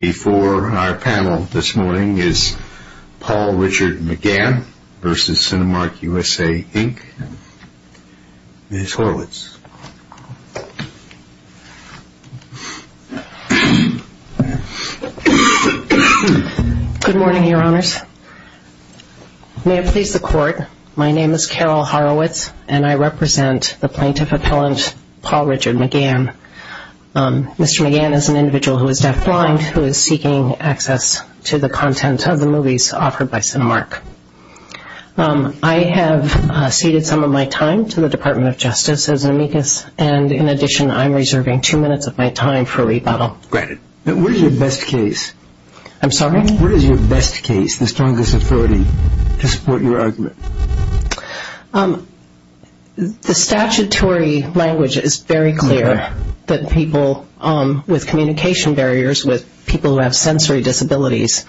Before our panel this morning is Paul Richard McGann v. Cinemark USA Inc. Ms. Horowitz. Good morning, your honors. May it please the court, my name is Carol Horowitz and I represent the plaintiff appellant Paul Richard McGann. Mr. McGann is an individual who is deafblind who is seeking access to the content of the movies offered by Cinemark. I have ceded some of my time to the Department of Justice as an amicus and in addition I'm reserving two minutes of my time for rebuttal. Granted. What is your best case? I'm sorry? What is your best case, the strongest authority to support your argument? The statutory language is very clear that people with communication barriers, with people who have sensory disabilities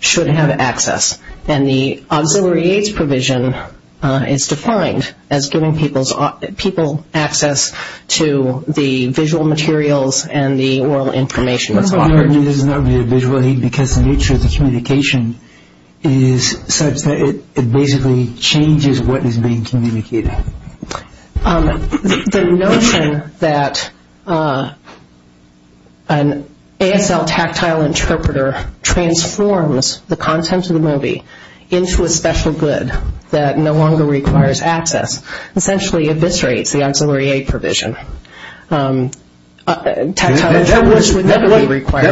should have access. And the auxiliary aids provision is defined as giving people access to the visual materials and the oral information that's offered. The term is not really a visual aid because the nature of the communication is such that it basically changes what is being communicated. The notion that an ASL tactile interpreter transforms the content of the movie into a special good that no longer requires access essentially eviscerates the auxiliary aid provision. That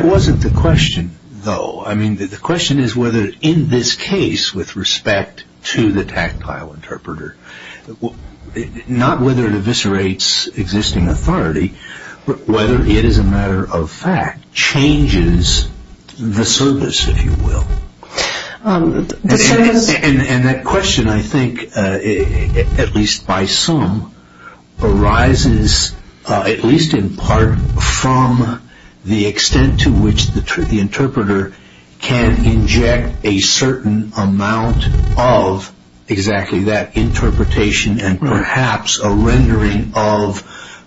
wasn't the question though. I mean the question is whether in this case with respect to the tactile interpreter, not whether it eviscerates existing authority but whether it is a matter of fact changes the service if you will. And that question I think at least by some arises at least in part from the extent to which the interpreter can inject a certain amount of exactly that interpretation and perhaps a rendering of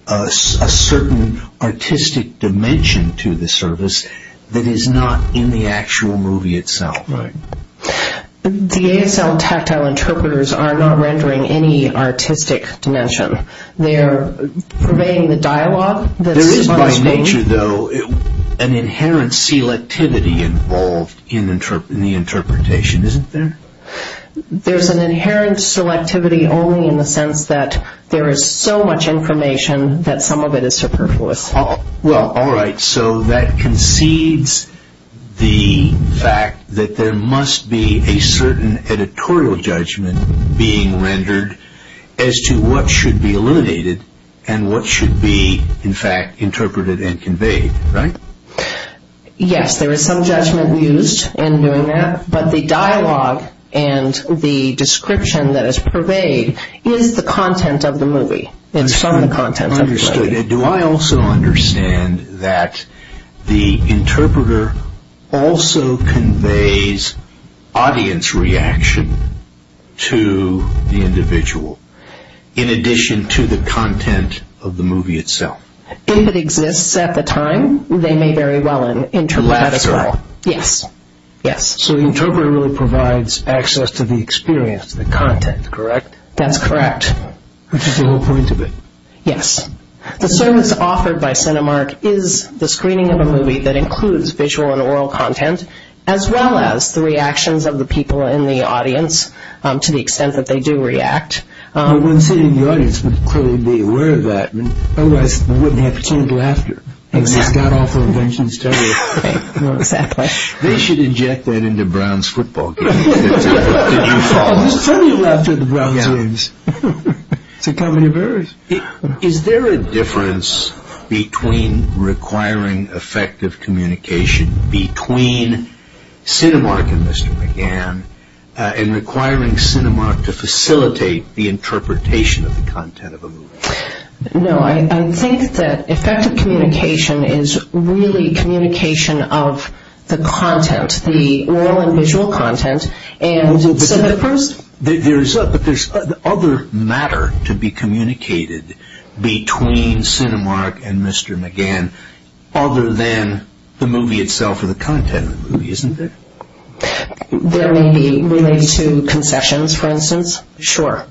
a certain artistic dimension to the service that is not in the actual movie itself. The ASL tactile interpreters are not rendering any artistic dimension. They are purveying the dialogue. There is by nature though an inherent selectivity involved in the interpretation, isn't there? There is an inherent selectivity only in the sense that there is so much information that some of it is superfluous. All right, so that concedes the fact that there must be a certain editorial judgment being rendered as to what should be eliminated and what should be in fact interpreted and conveyed, right? Yes, there is some judgment used in doing that. But the dialogue and the description that is purveyed is the content of the movie. It's from the content of the movie. Understood. Do I also understand that the interpreter also conveys audience reaction to the individual in addition to the content of the movie itself? If it exists at the time, they may very well interpret that as well. Yes, yes. So the interpreter really provides access to the experience, the content, correct? That's correct. Which is the whole point of it. Yes. The service offered by Cinemark is the screening of a movie that includes visual and oral content as well as the reactions of the people in the audience to the extent that they do react. One sitting in the audience would clearly be aware of that. Otherwise, they wouldn't have to change laughter. Exactly. It's a god-awful invention to start with. Exactly. They should inject that into Brown's football game. Did you follow? There's plenty of laughter in the Browns' games. It's a comedy of errors. Is there a difference between requiring effective communication between Cinemark and Mr. McGann and requiring Cinemark to facilitate the interpretation of the content of a movie? No. I think that effective communication is really communication of the content, the oral and visual content. But there's other matter to be communicated between Cinemark and Mr. McGann other than the movie itself or the content of the movie, isn't there? There may be related to concessions, for instance. Sure.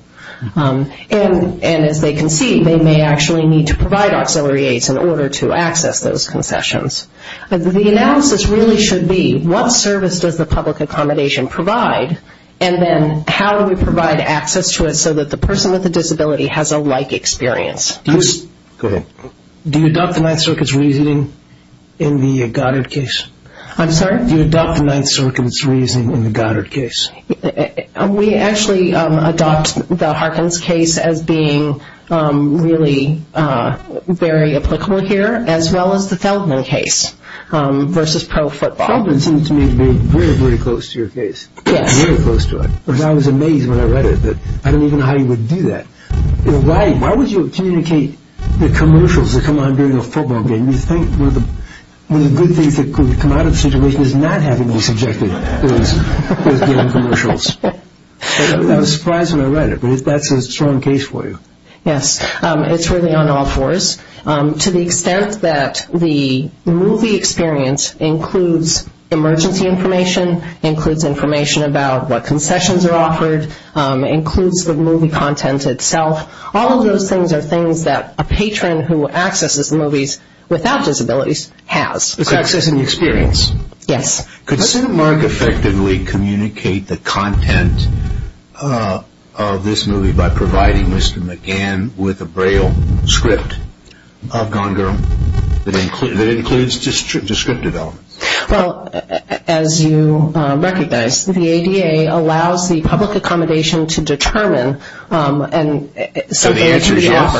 And as they can see, they may actually need to provide auxiliary aids in order to access those concessions. The analysis really should be what service does the public accommodation provide and then how do we provide access to it so that the person with the disability has a like experience. Go ahead. Do you adopt the Ninth Circuit's reasoning in the Goddard case? I'm sorry? Do you adopt the Ninth Circuit's reasoning in the Goddard case? We actually adopt the Harkins case as being really very applicable here as well as the Feldman case versus pro football. Feldman seems to me to be very, very close to your case. Yes. Very close to it. Because I was amazed when I read it that I didn't even know how you would do that. Why would you communicate the commercials that come on during a football game? One of the good things that could come out of the situation is not having you subjected to those commercials. I was surprised when I read it, but that's a strong case for you. Yes. It's really on all fours. To the extent that the movie experience includes emergency information, includes information about what concessions are offered, includes the movie content itself, all of those things are things that a patron who accesses movies without disabilities has. Accessing the experience. Yes. Could Senator Mark effectively communicate the content of this movie by providing Mr. McGann with a Braille script of Gone Girl that includes descriptive elements? As you recognize, the ADA allows the public accommodation to determine. So the answer is yes?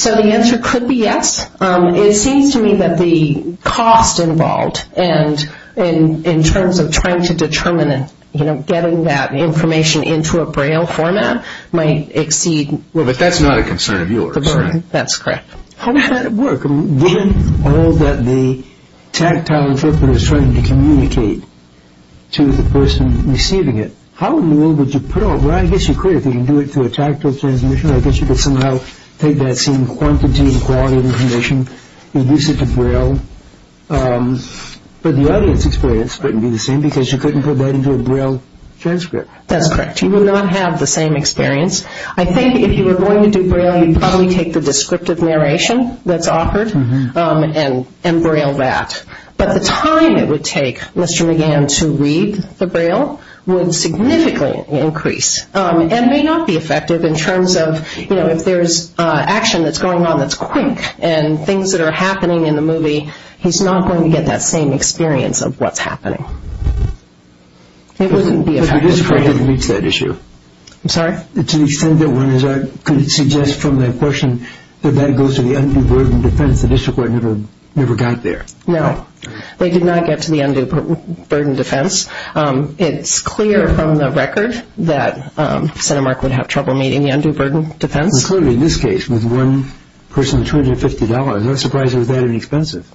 So the answer could be yes. It seems to me that the cost involved in terms of trying to determine and getting that information into a Braille format might exceed. But that's not a concern of yours, right? That's correct. How would that work? Given all that the tactile interpreter is trying to communicate to the person receiving it, how in the world would you put all that? Well, I guess you could if you can do it through a tactile transmission. I guess you could somehow take that same quantity and quality of information, reduce it to Braille, but the audience experience couldn't be the same because you couldn't put that into a Braille transcript. That's correct. You would not have the same experience. I think if you were going to do Braille, you'd probably take the descriptive narration that's offered and Braille that. But the time it would take Mr. McGann to read the Braille would significantly increase and may not be effective in terms of if there's action that's going on that's quick and things that are happening in the movie, he's not going to get that same experience of what's happening. It wouldn't be effective. But it is great that it meets that issue. I'm sorry? It's an extremely good one. I could suggest from that question that that goes to the undue burden defense. The district court never got there. No. They did not get to the undue burden defense. It's clear from the record that CentiMark would have trouble meeting the undue burden defense. Including this case with one person with $250. I'm not surprised it was that inexpensive.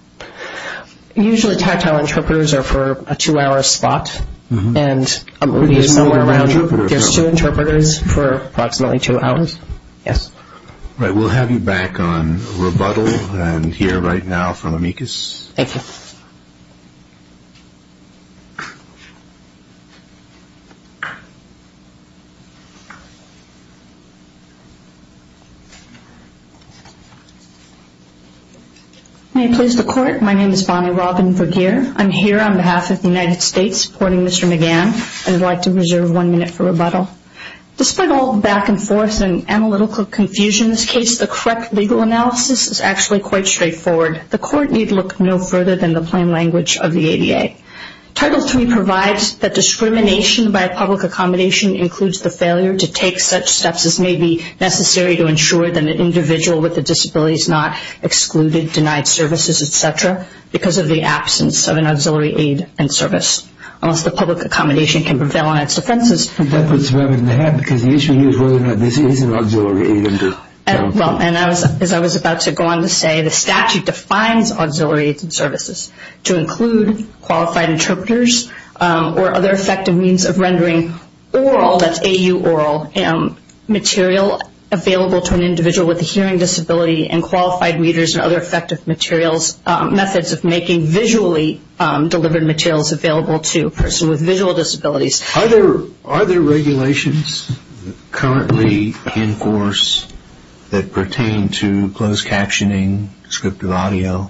Usually tactile interpreters are for a two-hour spot. And somewhere around you there's two interpreters for approximately two hours. Yes. All right. We'll have you back on rebuttal and hear right now from Amicus. Thank you. May I please report? My name is Bonnie Robin Vergeer. I'm here on behalf of the United States supporting Mr. McGann. I would like to reserve one minute for rebuttal. Despite all the back and forth and analytical confusion in this case, the correct legal analysis is actually quite straightforward. The court need look no further than the plain language of the ADA. Title III provides that discrimination by public accommodation includes the failure to take such steps as may be necessary to ensure that an individual with a disability is not excluded, denied services, et cetera, because of the absence of an auxiliary aid and service. Unless the public accommodation can prevail on its defenses. That puts a burden on the head because the issue here is whether or not this is an auxiliary aid. As I was about to go on to say, the statute defines auxiliary aids and services to include qualified interpreters or other effective means of rendering oral, that's AU oral, material available to an individual with a hearing disability and qualified readers and other effective materials, methods of making visually delivered materials available to a person with visual disabilities. Are there regulations currently in force that pertain to closed captioning, descriptive audio?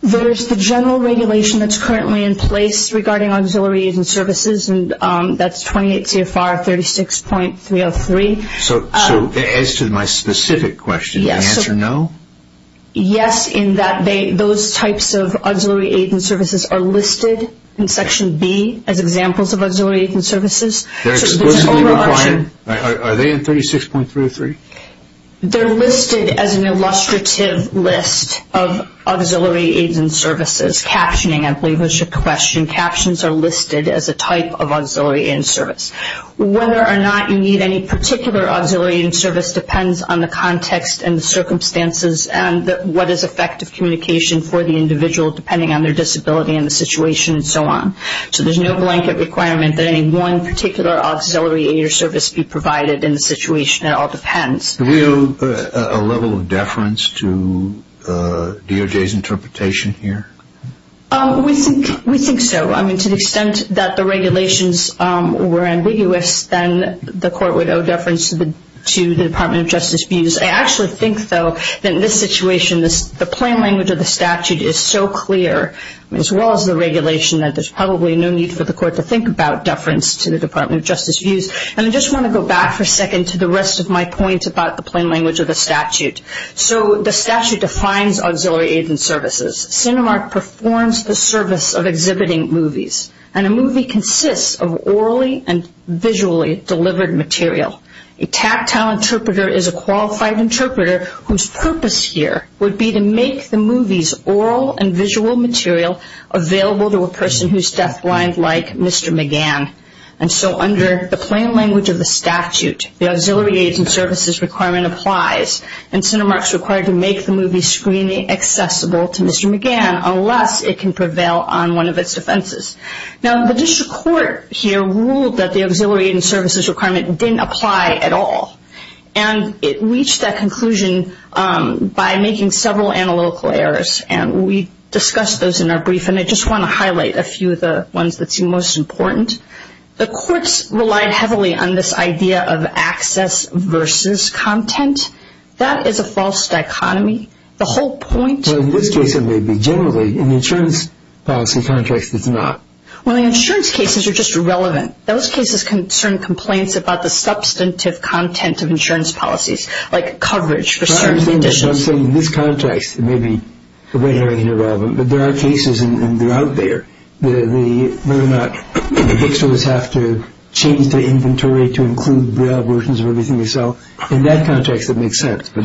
There's the general regulation that's currently in place regarding auxiliary aids and services and that's 28 CFR 36.303. As to my specific question, the answer no? Yes, in that those types of auxiliary aids and services are listed in section B as examples of auxiliary aids and services. Are they in 36.303? They're listed as an illustrative list of auxiliary aids and services. Captioning, I believe, was your question. Captions are listed as a type of auxiliary aid and service. Whether or not you need any particular auxiliary aid and service depends on the context and the circumstances and what is effective communication for the individual depending on their disability and the situation and so on. So there's no blanket requirement that any one particular auxiliary aid or service be provided in the situation. It all depends. Do we owe a level of deference to DOJ's interpretation here? We think so. I mean, to the extent that the regulations were ambiguous, then the court would owe deference to the Department of Justice views. I actually think, though, that in this situation the plain language of the statute is so clear, as well as the regulation, that there's probably no need for the court to think about deference to the Department of Justice views. And I just want to go back for a second to the rest of my point about the plain language of the statute. So the statute defines auxiliary aids and services. Cinemark performs the service of exhibiting movies. And a movie consists of orally and visually delivered material. A tactile interpreter is a qualified interpreter whose purpose here would be to make the movie's oral and visual material available to a person who's deafblind like Mr. McGann. And so under the plain language of the statute, the auxiliary aids and services requirement applies. And Cinemark's required to make the movie's screening accessible to Mr. McGann unless it can prevail on one of its defenses. Now, the district court here ruled that the auxiliary aids and services requirement didn't apply at all. And it reached that conclusion by making several analytical errors. And we discussed those in our brief. And I just want to highlight a few of the ones that seem most important. The courts relied heavily on this idea of access versus content. That is a false dichotomy. The whole point of this case may be generally in the insurance policy context it's not. Well, the insurance cases are just irrelevant. Those cases concern complaints about the substantive content of insurance policies like coverage for certain conditions. I'm saying in this context it may be irrelevant. But there are cases and they're out there. The bookstores have to change the inventory to include braille versions of everything they sell. In that context it makes sense. But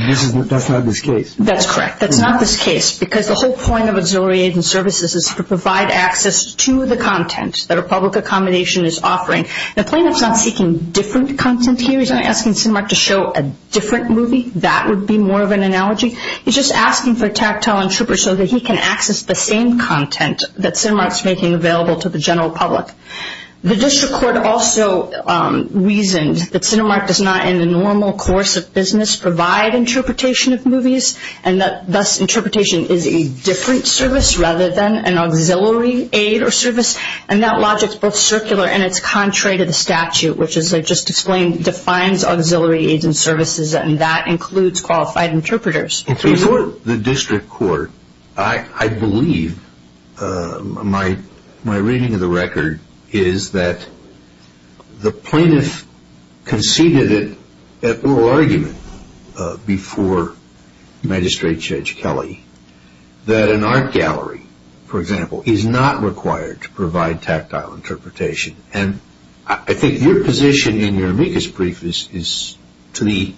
that's not this case. That's correct. That's not this case because the whole point of auxiliary aids and services is to provide access to the content that a public accommodation is offering. The plaintiff's not seeking different content here. He's not asking Cinemark to show a different movie. That would be more of an analogy. He's just asking for a tactile interpreter so that he can access the same content that Cinemark is making available to the general public. The district court also reasoned that Cinemark does not in the normal course of business provide interpretation of movies and that thus interpretation is a different service rather than an auxiliary aid or service. And that logic is both circular and it's contrary to the statute, which as I just explained defines auxiliary aids and services and that includes qualified interpreters. Before the district court, I believe my reading of the record is that the plaintiff conceded it at oral argument before Magistrate Judge Kelly that an art gallery, for example, is not required to provide tactile interpretation. And I think your position in your amicus brief is the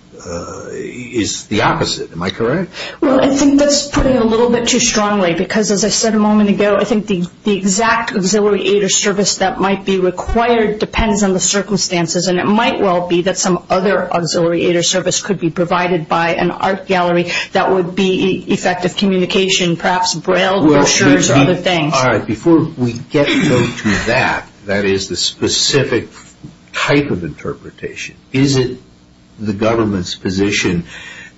opposite. Am I correct? Well, I think that's putting it a little bit too strongly because as I said a moment ago, I think the exact auxiliary aid or service that might be required depends on the circumstances and it might well be that some other auxiliary aid or service could be provided by an art gallery that would be effective communication, perhaps braille brochures and other things. All right, before we get to that, that is the specific type of interpretation, is it the government's position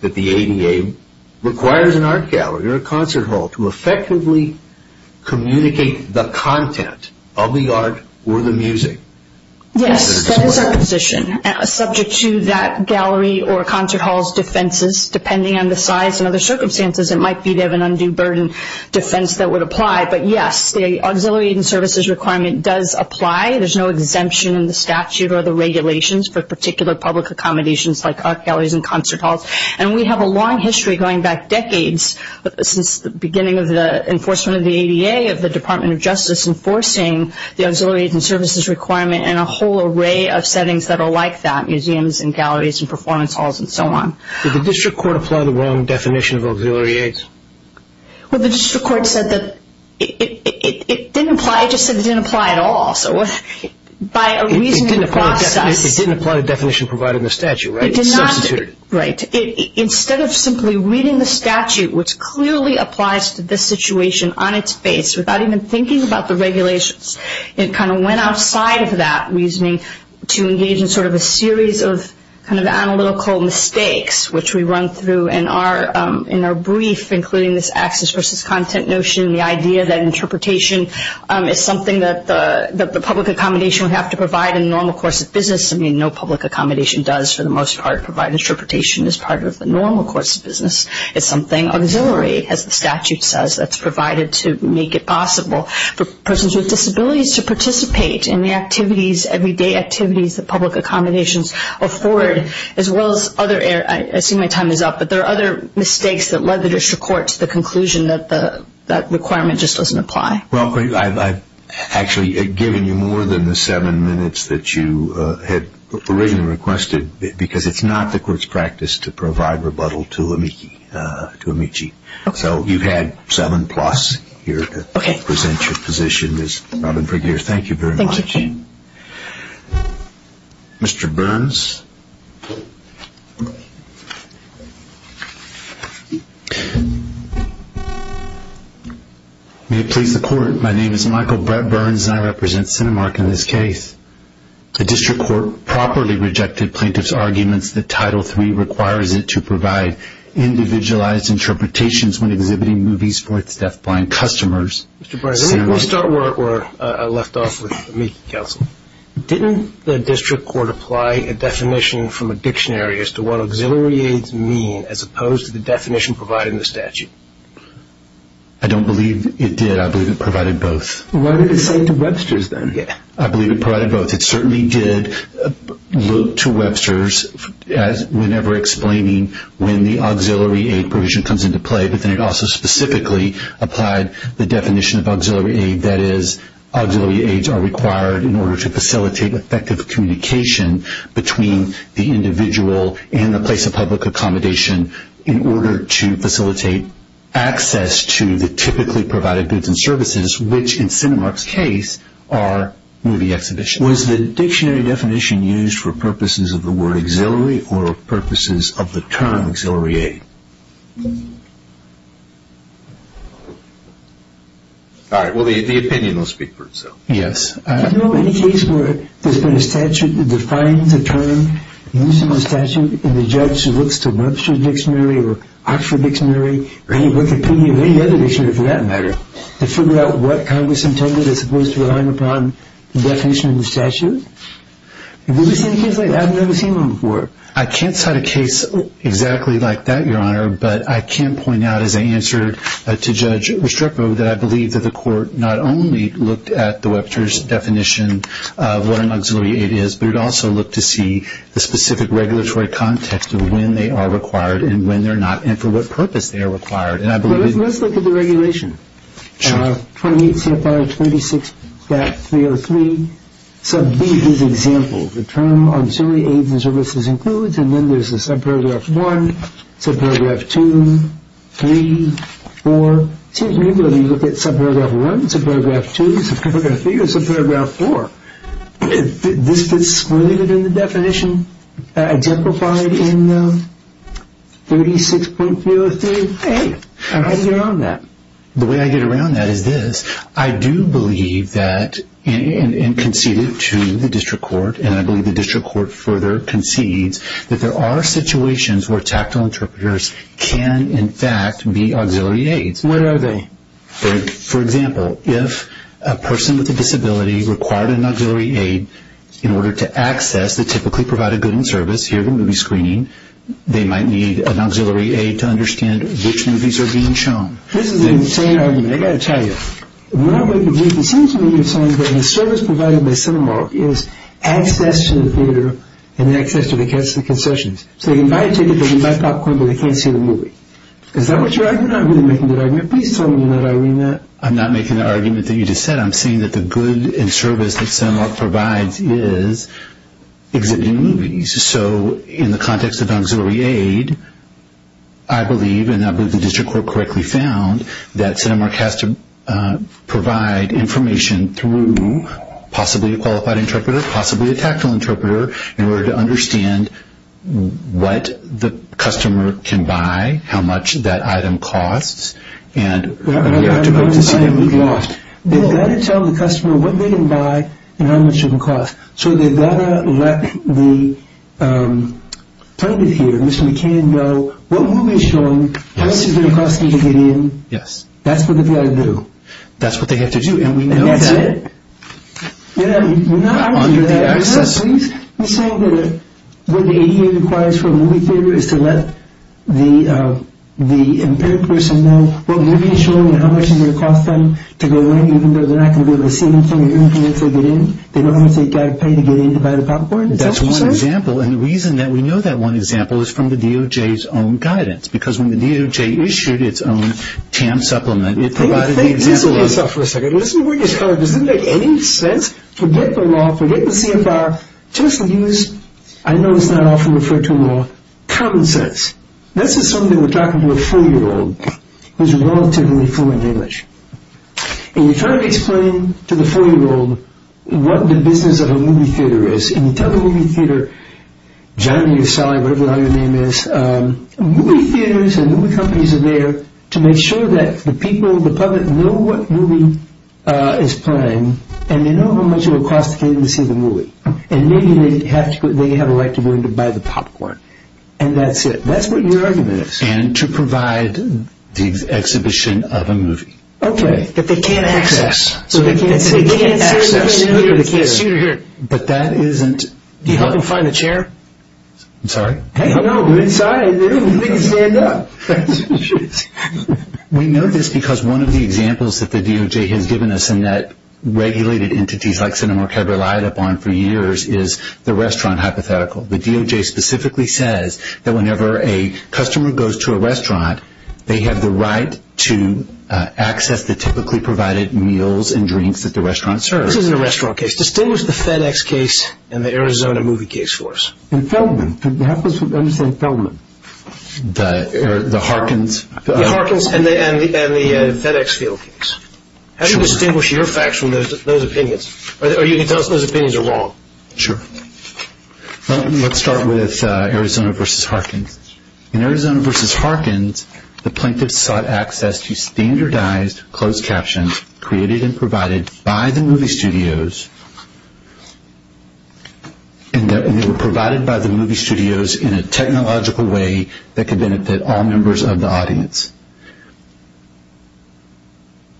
that the ADA requires an art gallery or a concert hall to effectively communicate the content of the art or the music? Yes, that is our position. Subject to that gallery or concert hall's defenses, depending on the size and other circumstances, it might be they have an undue burden defense that would apply. But yes, the auxiliary aid and services requirement does apply. There's no exemption in the statute or the regulations for particular public accommodations like art galleries and concert halls. And we have a long history going back decades since the beginning of the enforcement of the ADA, of the Department of Justice enforcing the auxiliary aid and services requirement and a whole array of settings that are like that, museums and galleries and performance halls and so on. Did the district court apply the wrong definition of auxiliary aids? Well, the district court said that it didn't apply. It just said it didn't apply at all. It didn't apply the definition provided in the statute, right? It substituted it. Right. Instead of simply reading the statute, which clearly applies to this situation on its face, without even thinking about the regulations, it kind of went outside of that reasoning to engage in sort of a series of kind of analytical mistakes, which we run through in our brief, including this access versus content notion and the idea that interpretation is something that the public accommodation would have to provide in the normal course of business. I mean, no public accommodation does, for the most part, provide interpretation as part of the normal course of business. It's something auxiliary, as the statute says, that's provided to make it possible for persons with disabilities to participate in the activities, everyday activities that public accommodations afford, as well as other areas. I assume my time is up, but there are other mistakes that led the district court to the conclusion that that requirement just doesn't apply. Well, I've actually given you more than the seven minutes that you had originally requested, because it's not the court's practice to provide rebuttal to Amici. So you've had seven-plus here to present your position. Ms. Robin Brigier, thank you very much. Thank you. Mr. Burns. May it please the court, my name is Michael Brett Burns, and I represent Cinemark in this case. The district court properly rejected plaintiff's arguments that Title III requires it to provide individualized interpretations when exhibiting movies for its deafblind customers. Mr. Burns, let me start where I left off with Amici Counsel. Didn't the district court apply a definition from a dictionary as to what auxiliary aids mean, as opposed to the definition provided in the statute? I don't believe it did. I believe it provided both. What did it say to Webster's then? I believe it provided both. It certainly did look to Webster's whenever explaining when the auxiliary aid provision comes into play, but then it also specifically applied the definition of auxiliary aid, that is auxiliary aids are required in order to facilitate effective communication between the individual and the place of public accommodation in order to facilitate access to the typically provided goods and services, which in Cinemark's case are movie exhibitions. Was the dictionary definition used for purposes of the word auxiliary or purposes of the term auxiliary aid? All right. Well, the opinion will speak for itself. Yes. I don't know of any case where there's been a statute that defines a term using the statute and the judge looks to Webster's dictionary or Oxford dictionary or any other dictionary for that matter to figure out what Congress intended as opposed to relying upon the definition of the statute. Have you ever seen a case like that? I've never seen one before. I can't cite a case exactly like that, Your Honor, but I can point out as I answered to Judge Restrepo that I believe that the court not only looked at the Webster's definition of what an auxiliary aid is, but it also looked to see the specific regulatory context of when they are required and when they're not and for what purpose they are required. Let's look at the regulation. 28 CFR 26.303 sub B is example. The term auxiliary aids and services includes. And then there's a subparagraph one, subparagraph two, three, four. You look at subparagraph one, subparagraph two, subparagraph three or subparagraph four. This fits really good in the definition. Exemplified in the 36.303. How do you get around that? The way I get around that is this. I do believe that and concede it to the district court, and I believe the district court further concedes that there are situations where tactile interpreters can, in fact, be auxiliary aids. What are they? For example, if a person with a disability required an auxiliary aid in order to access the typically provided goods and service, hear the movie screening, they might need an auxiliary aid to understand which movies are being shown. This is an insane argument. I've got to tell you. What I'm going to do is concede to you that the service provided by Cinemark is access to the theater and access to the concessions. So they can buy a ticket, they can buy popcorn, but they can't see the movie. You're not really making a good argument. Can you please tell me that, Irina? I'm not making the argument that you just said. I'm saying that the good and service that Cinemark provides is exhibiting movies. So in the context of auxiliary aid, I believe, and I believe the district court correctly found, that Cinemark has to provide information through possibly a qualified interpreter, possibly a tactile interpreter in order to understand what the customer can buy, how much that item costs, and how they are to go to see the movie. They've got to tell the customer what they can buy and how much it can cost. So they've got to let the plaintiff here, Mr. McCain, know what movie is showing, how much it's going to cost them to get in. Yes. That's what they've got to do. That's what they have to do. And we know that. And that's it. We're not arguing for that. Can I ask, please? You say that what the ADA requires for a movie theater is to let the impaired person know what movie is showing and how much it's going to cost them to go in, even though they're not going to be able to see anything or hear anything until they get in? They don't have to pay to get in to buy the popcorn? Is that what you're saying? That's one example. And the reason that we know that one example is from the DOJ's own guidance, because when the DOJ issued its own TAM supplement, it provided the example of Listen to yourself for a second. Listen to what you're saying. Does it make any sense? Forget the law. Forget the CFR. Just use, I know it's not often referred to in law, common sense. This is something we're talking to a four-year-old who's relatively fluent in English. And you're trying to explain to the four-year-old what the business of a movie theater is. And you tell the movie theater, Johnny or Sally, whatever the hell your name is, movie theaters and movie companies are there to make sure that the people, the public know what movie is playing and they know how much it will cost for them to see the movie. And maybe they have a right to go in to buy the popcorn. And that's it. That's what your argument is. And to provide the exhibition of a movie. Okay. That they can't access. So they can't see. They can't access. They can't see or hear. But that isn't. Do you help them find the chair? I'm sorry? No, they're inside. They can stand up. We know this because one of the examples that the DOJ has given us and that regulated entities like Cinemark have relied upon for years is the restaurant hypothetical. The DOJ specifically says that whenever a customer goes to a restaurant, they have the right to access the typically provided meals and drinks that the restaurant serves. This isn't a restaurant case. Distinguish the FedEx case and the Arizona movie case for us. And Feldman. I'm just saying Feldman. The Harkins. The Harkins and the FedEx field case. How do you distinguish your facts from those opinions? Or you can tell us those opinions are wrong. Sure. Let's start with Arizona versus Harkins. In Arizona versus Harkins, the plaintiffs sought access to standardized closed captions created and provided by the movie studios. And they were provided by the movie studios in a technological way that could benefit all members of the audience.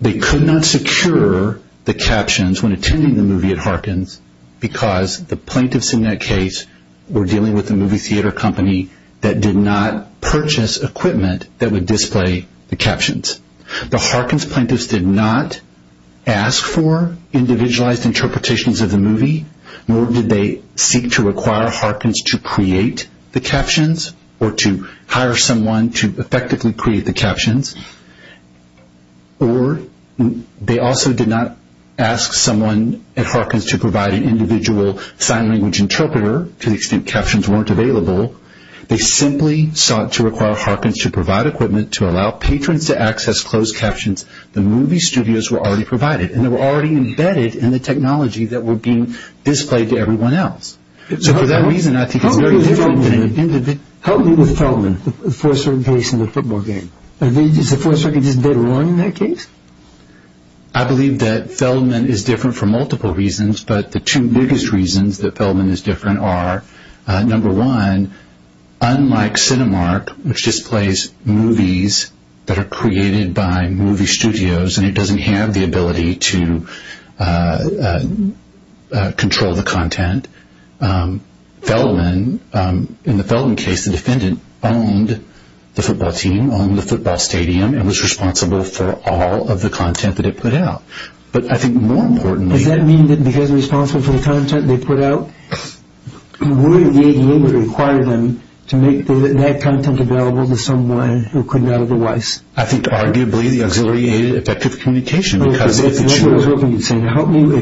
They could not secure the captions when attending the movie at Harkins because the plaintiffs in that case were dealing with a movie theater company that did not purchase equipment that would display the captions. The Harkins plaintiffs did not ask for individualized interpretations of the movie, nor did they seek to require Harkins to create the captions or to hire someone to effectively create the captions. Or they also did not ask someone at Harkins to provide an individual sign language interpreter to the extent captions weren't available. They simply sought to require Harkins to provide equipment to allow patrons to access closed captions the movie studios were already provided. And they were already embedded in the technology that was being displayed to everyone else. So for that reason, I think it's a very different thing. How are you with Feldman, the fourth circuit case and the football game? Is the fourth circuit case better running in that case? I believe that Feldman is different for multiple reasons, but the two biggest reasons that Feldman is different are, number one, unlike Cinemark, which displays movies that are created by movie studios and it doesn't have the ability to control the content, Feldman, in the Feldman case, the defendant owned the football team, owned the football stadium, and was responsible for all of the content that it put out. But I think more importantly... If he was responsible for the content they put out, would the ADA require them to make that content available to someone who could not otherwise? I think arguably the auxiliary aid is effective communication. If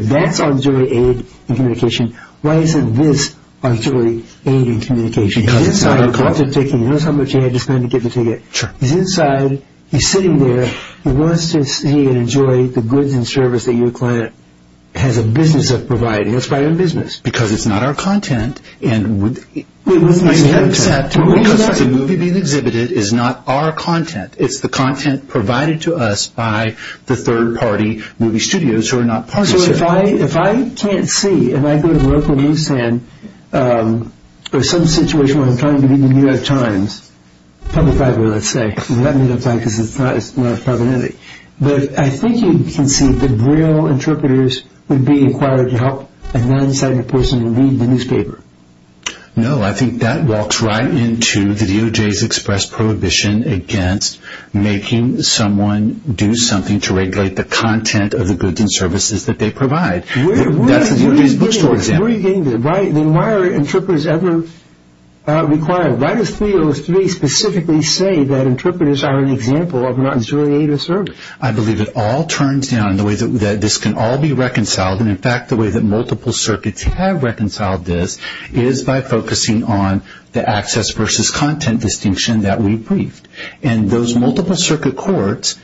that's auxiliary aid in communication, why isn't this auxiliary aid in communication? He's inside, caught the ticket, he knows how much he had to spend to get the ticket. He's inside, he's sitting there, he wants to see and enjoy the goods and service that your client has a business of providing. That's part of the business. Because it's not our content. Wait a second. Because the movie being exhibited is not our content. It's the content provided to us by the third party movie studios who are not part of the studio. So if I can't see, and I go to the local newsstand, or some situation where I'm trying to read the New York Times, Public Fiber, let's say, because it's not as prominent. But I think you can see that real interpreters would be required to help a non-sighted person read the newspaper. No, I think that walks right into the DOJ's express prohibition against making someone do something to regulate the content of the goods and services that they provide. That's the DOJ's bookstore example. Then why are interpreters ever required? Why does 303 specifically say that interpreters are an example of non-judicial service? I believe it all turns down the way that this can all be reconciled. In fact, the way that multiple circuits have reconciled this is by focusing on the access versus content distinction that we briefed. And those multiple circuit courts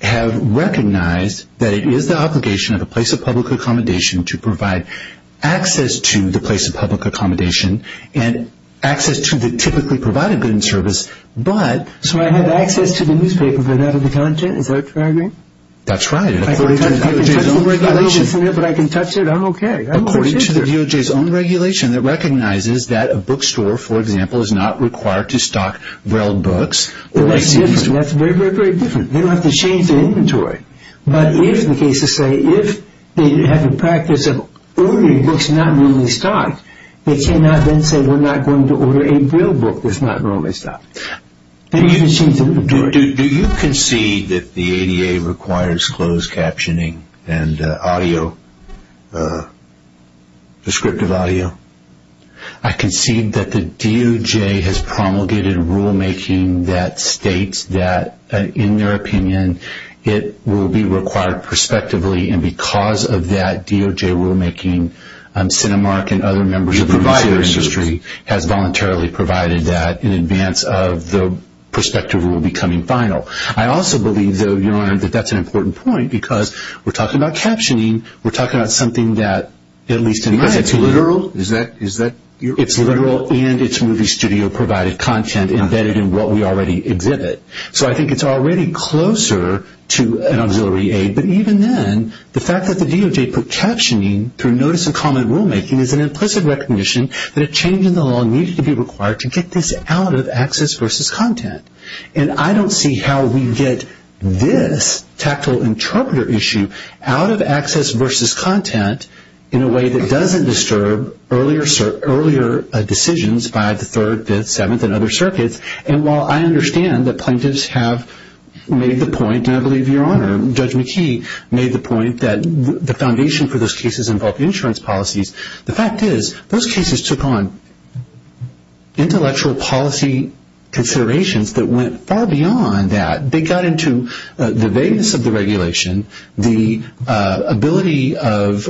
have recognized that it is the obligation of a place of public accommodation to provide access to the place of public accommodation and access to the typically provided goods and service. So I have access to the newspaper, but not to the content? Is that what you're arguing? That's right. I can touch it, but I'm okay. According to the DOJ's own regulation that recognizes that a bookstore, for example, is not required to stock railed books. That's very, very different. They don't have to change their inventory. But if, the cases say, if they have the practice of ordering books not normally stocked, they cannot then say we're not going to order a railed book that's not normally stocked. Do you concede that the ADA requires closed captioning and audio, descriptive audio? I concede that the DOJ has promulgated rulemaking that states that, in their opinion, it will be required prospectively, and because of that DOJ rulemaking, Cinemark and other members of the newspaper industry has voluntarily provided that in advance of the prospective rule becoming final. I also believe, though, Your Honor, that that's an important point because we're talking about captioning. We're talking about something that, at least in my opinion. Because it's literal? It's literal and it's movie studio provided content embedded in what we already exhibit. So I think it's already closer to an auxiliary aid. But even then, the fact that the DOJ put captioning through notice and comment rulemaking is an implicit recognition that a change in the law needed to be required to get this out of access versus content. And I don't see how we get this tactile interpreter issue out of access versus content in a way that doesn't disturb earlier decisions by the Third, Fifth, Seventh, and other circuits. And while I understand that plaintiffs have made the point, and I believe Your Honor, Judge McKee made the point, that the foundation for those cases involved insurance policies, the fact is those cases took on intellectual policy considerations that went far beyond that. They got into the vagueness of the regulation, the ability of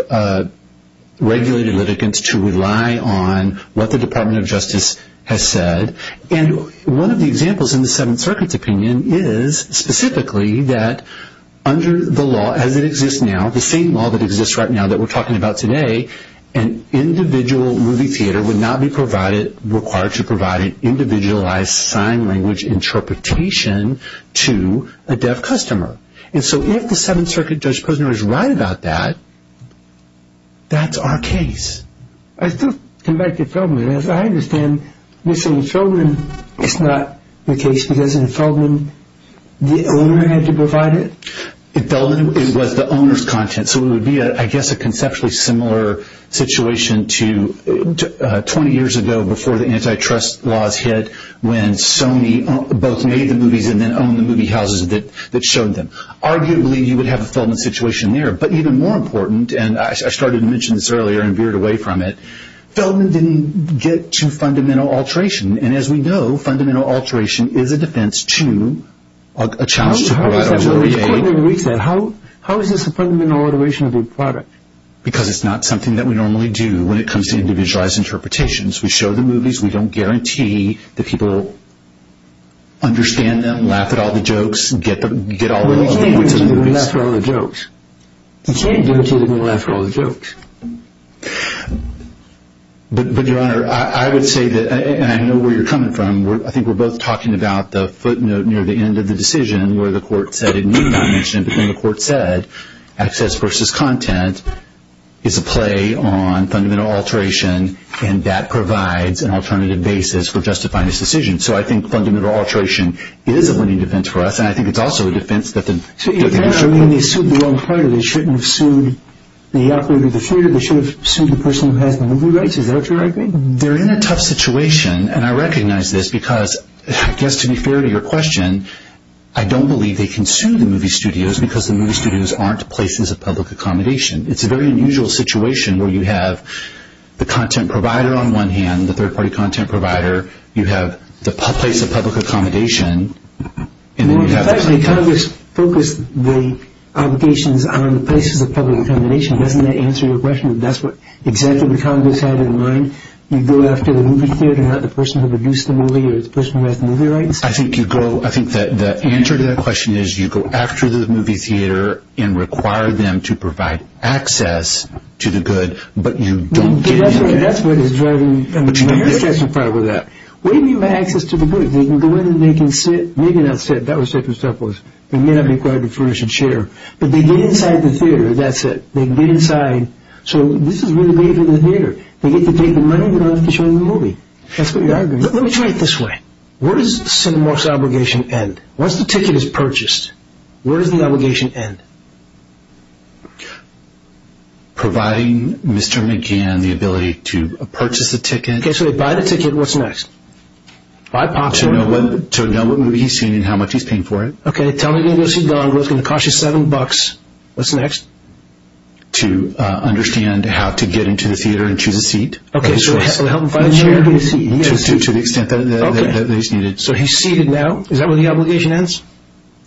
regulated litigants to rely on what the Department of Justice has said. And one of the examples in the Seventh Circuit's opinion is specifically that under the law as it exists now, the same law that exists right now that we're talking about today, an individual movie theater would not be required to provide an individualized sign language interpretation to a deaf customer. And so if the Seventh Circuit Judge Posner is right about that, that's our case. I still come back to Feldman. As I understand, you're saying in Feldman it's not the case because in Feldman the owner had to provide it? In Feldman it was the owner's content. So it would be, I guess, a conceptually similar situation to 20 years ago before the antitrust laws hit when Sony both made the movies and then owned the movie houses that showed them. Arguably, you would have a Feldman situation there. But even more important, and I started to mention this earlier and veered away from it, Feldman didn't get to fundamental alteration. And as we know, fundamental alteration is a defense to a challenge to provide auditory aid. How is this a fundamental alteration of the product? Because it's not something that we normally do when it comes to individualized interpretations. We show the movies. We don't guarantee that people understand them, laugh at all the jokes, get all the points of the movies. Well, you can't guarantee they're going to laugh at all the jokes. But, Your Honor, I would say that, and I know where you're coming from, I think we're both talking about the footnote near the end of the decision where the court said, and you've not mentioned it, but then the court said, access versus content is a play on fundamental alteration, and that provides an alternative basis for justifying this decision. So I think fundamental alteration is a winning defense for us, and I think it's also a defense that the- Your Honor, I mean, they sued the wrong party. They shouldn't have sued the operator of the theater. They should have sued the person who has the movie rights. Is that what you're arguing? They're in a tough situation, and I recognize this because, I guess, to be fair to your question, I don't believe they can sue the movie studios because the movie studios aren't places of public accommodation. It's a very unusual situation where you have the content provider on one hand, the third-party content provider. You have the place of public accommodation, and then you have the- The Congress focused the obligations on the places of public accommodation. Doesn't that answer your question? That's what exactly the Congress had in mind? You go after the movie theater, not the person who produced the movie or the person who has the movie rights? I think you go- I think the answer to that question is you go after the movie theater and require them to provide access to the good, but you don't do that. That's what is driving- But you don't do that. They're satisfied with that. What do you mean by access to the good? The way that they can sit, maybe not sit. That was different stuff. They may not be required to furnish a chair, but they get inside the theater. That's it. They get inside. So this is really great for the theater. They get to take the money they don't have to show in the movie. That's what you're arguing. Let me try it this way. Where does Cinemorph's obligation end? Once the ticket is purchased, where does the obligation end? Providing Mr. McGann the ability to purchase the ticket. Okay, so they buy the ticket. What's next? To know what movie he's seeing and how much he's paying for it. Okay, tell him he can go see Gone Girl. It's going to cost you $7. What's next? To understand how to get into the theater and choose a seat. Okay, so help him find a chair. To the extent that he's needed. So he's seated now. Is that where the obligation ends?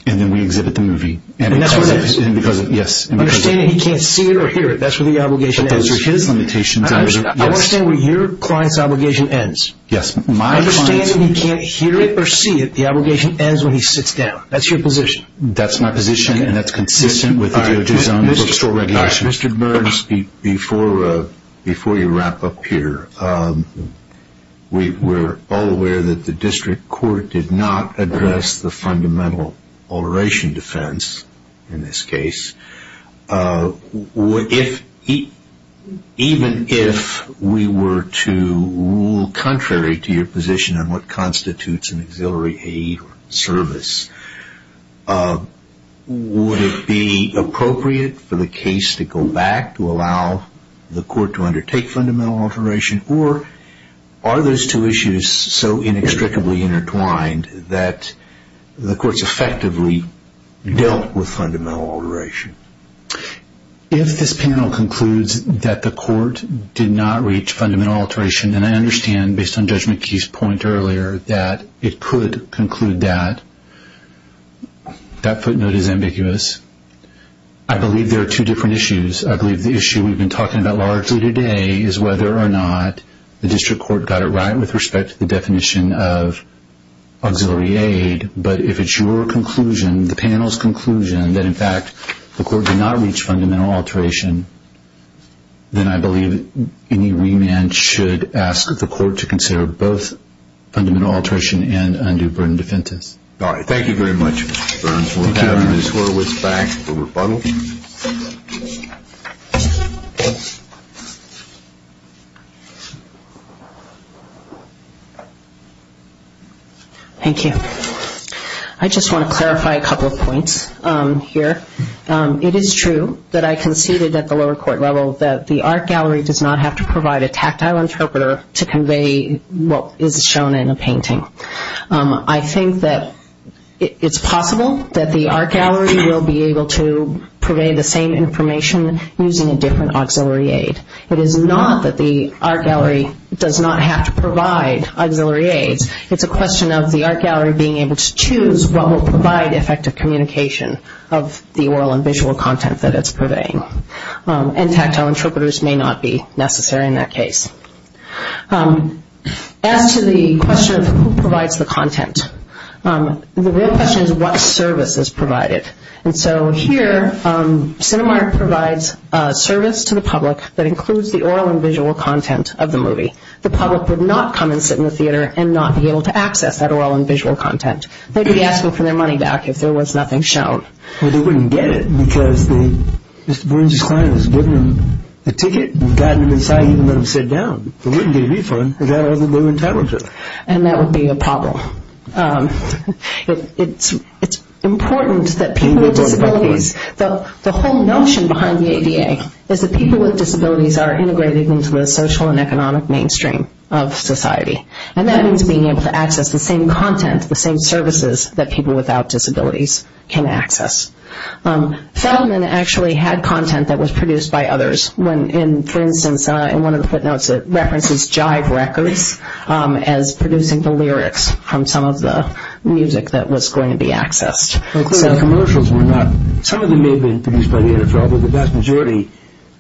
And then we exhibit the movie. And that's what ends? Yes. You're saying he can't see it or hear it. That's where the obligation ends. Those are his limitations. I understand where your client's obligation ends. Yes. I understand that he can't hear it or see it. The obligation ends when he sits down. That's your position. That's my position, and that's consistent with the DOJ's own bookstore regulations. Mr. Burns, before you wrap up here, we're all aware that the district court did not address the fundamental alteration defense in this case. Even if we were to rule contrary to your position on what constitutes an auxiliary aid service, would it be appropriate for the case to go back to allow the court to undertake fundamental alteration, or are those two issues so inextricably intertwined that the courts effectively dealt with fundamental alteration? If this panel concludes that the court did not reach fundamental alteration, then I understand, based on Judge McKee's point earlier, that it could conclude that. That footnote is ambiguous. I believe there are two different issues. I believe the issue we've been talking about largely today is whether or not the district court got it right with respect to the definition of auxiliary aid. But if it's your conclusion, the panel's conclusion, that in fact the court did not reach fundamental alteration, then I believe any remand should ask the court to consider both fundamental alteration and undue burden defense. All right. Thank you very much, Mr. Burns. We'll have Ms. Horwitz back for rebuttal. Thank you. I just want to clarify a couple of points here. It is true that I conceded at the lower court level that the art gallery does not have to provide a tactile interpreter to convey what is shown in a painting. I think that it's possible that the art gallery will be able to purvey the same information using a different auxiliary aid. It is not that the art gallery does not have to provide auxiliary aids. It's a question of the art gallery being able to choose what will provide effective communication of the oral and visual content that it's purveying. And tactile interpreters may not be necessary in that case. As to the question of who provides the content, the real question is what service is provided. And so here Cinemark provides service to the public that includes the oral and visual content of the movie. The public would not come and sit in the theater and not be able to access that oral and visual content. They'd be asking for their money back if there was nothing shown. Well, they wouldn't get it because Mr. Boren's client has given them the ticket and gotten them inside and let them sit down. They wouldn't get a refund if they had another blue interpreter. And that would be a problem. It's important that people with disabilities, the whole notion behind the ADA is that people with disabilities are integrated into the social and economic mainstream of society. And that means being able to access the same content, the same services that people without disabilities can access. Feldman actually had content that was produced by others. For instance, in one of the footnotes it references Jive Records as producing the lyrics from some of the music that was going to be accessed. Some of the commercials were not, some of them may have been produced by the NFL, but the vast majority,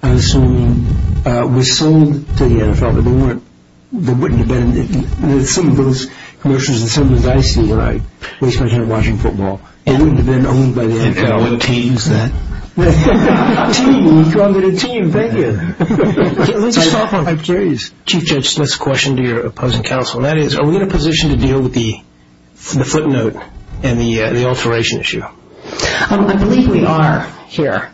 I'm assuming, was sold to the NFL. But there wouldn't have been, some of those commercials and some of those I see when I spend time watching football, it wouldn't have been owned by the NFL. And what team is that? Team, we called it a team, thank you. Let's just talk on, I'm curious. Chief Judge, let's question to your opposing counsel. Are we in a position to deal with the footnote and the alteration issue? I believe we are here.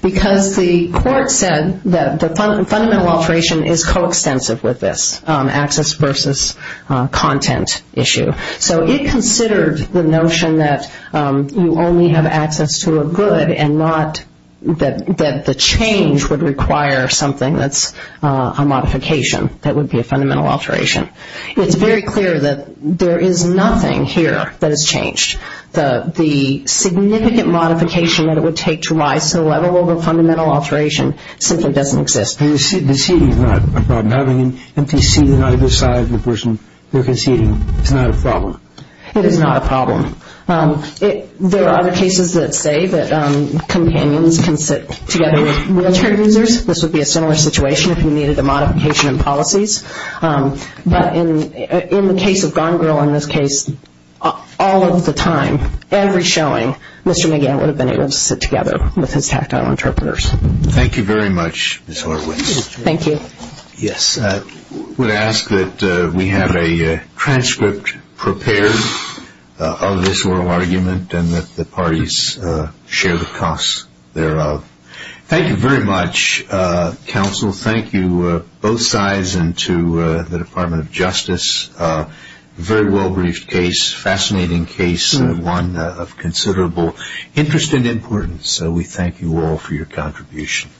Because the court said that the fundamental alteration is coextensive with this access versus content issue. So it considered the notion that you only have access to a good and not that the change would require something that's a modification. That would be a fundamental alteration. It's very clear that there is nothing here that has changed. The significant modification that it would take to rise to the level of a fundamental alteration simply doesn't exist. Deceding is not a problem. Having an empty seat on either side of the person they're conceding is not a problem. It is not a problem. There are other cases that say that companions can sit together with wheelchair users. This would be a similar situation if you needed a modification in policies. But in the case of Gone Girl, in this case, all of the time, every showing, Mr. McGann would have been able to sit together with his tactile interpreters. Thank you very much, Ms. Horwitz. Thank you. Yes, I would ask that we have a transcript prepared of this oral argument and that the parties share the costs thereof. Thank you very much, counsel. Thank you, both sides, and to the Department of Justice. A very well-briefed case, fascinating case, one of considerable interest and importance. We thank you all for your contribution.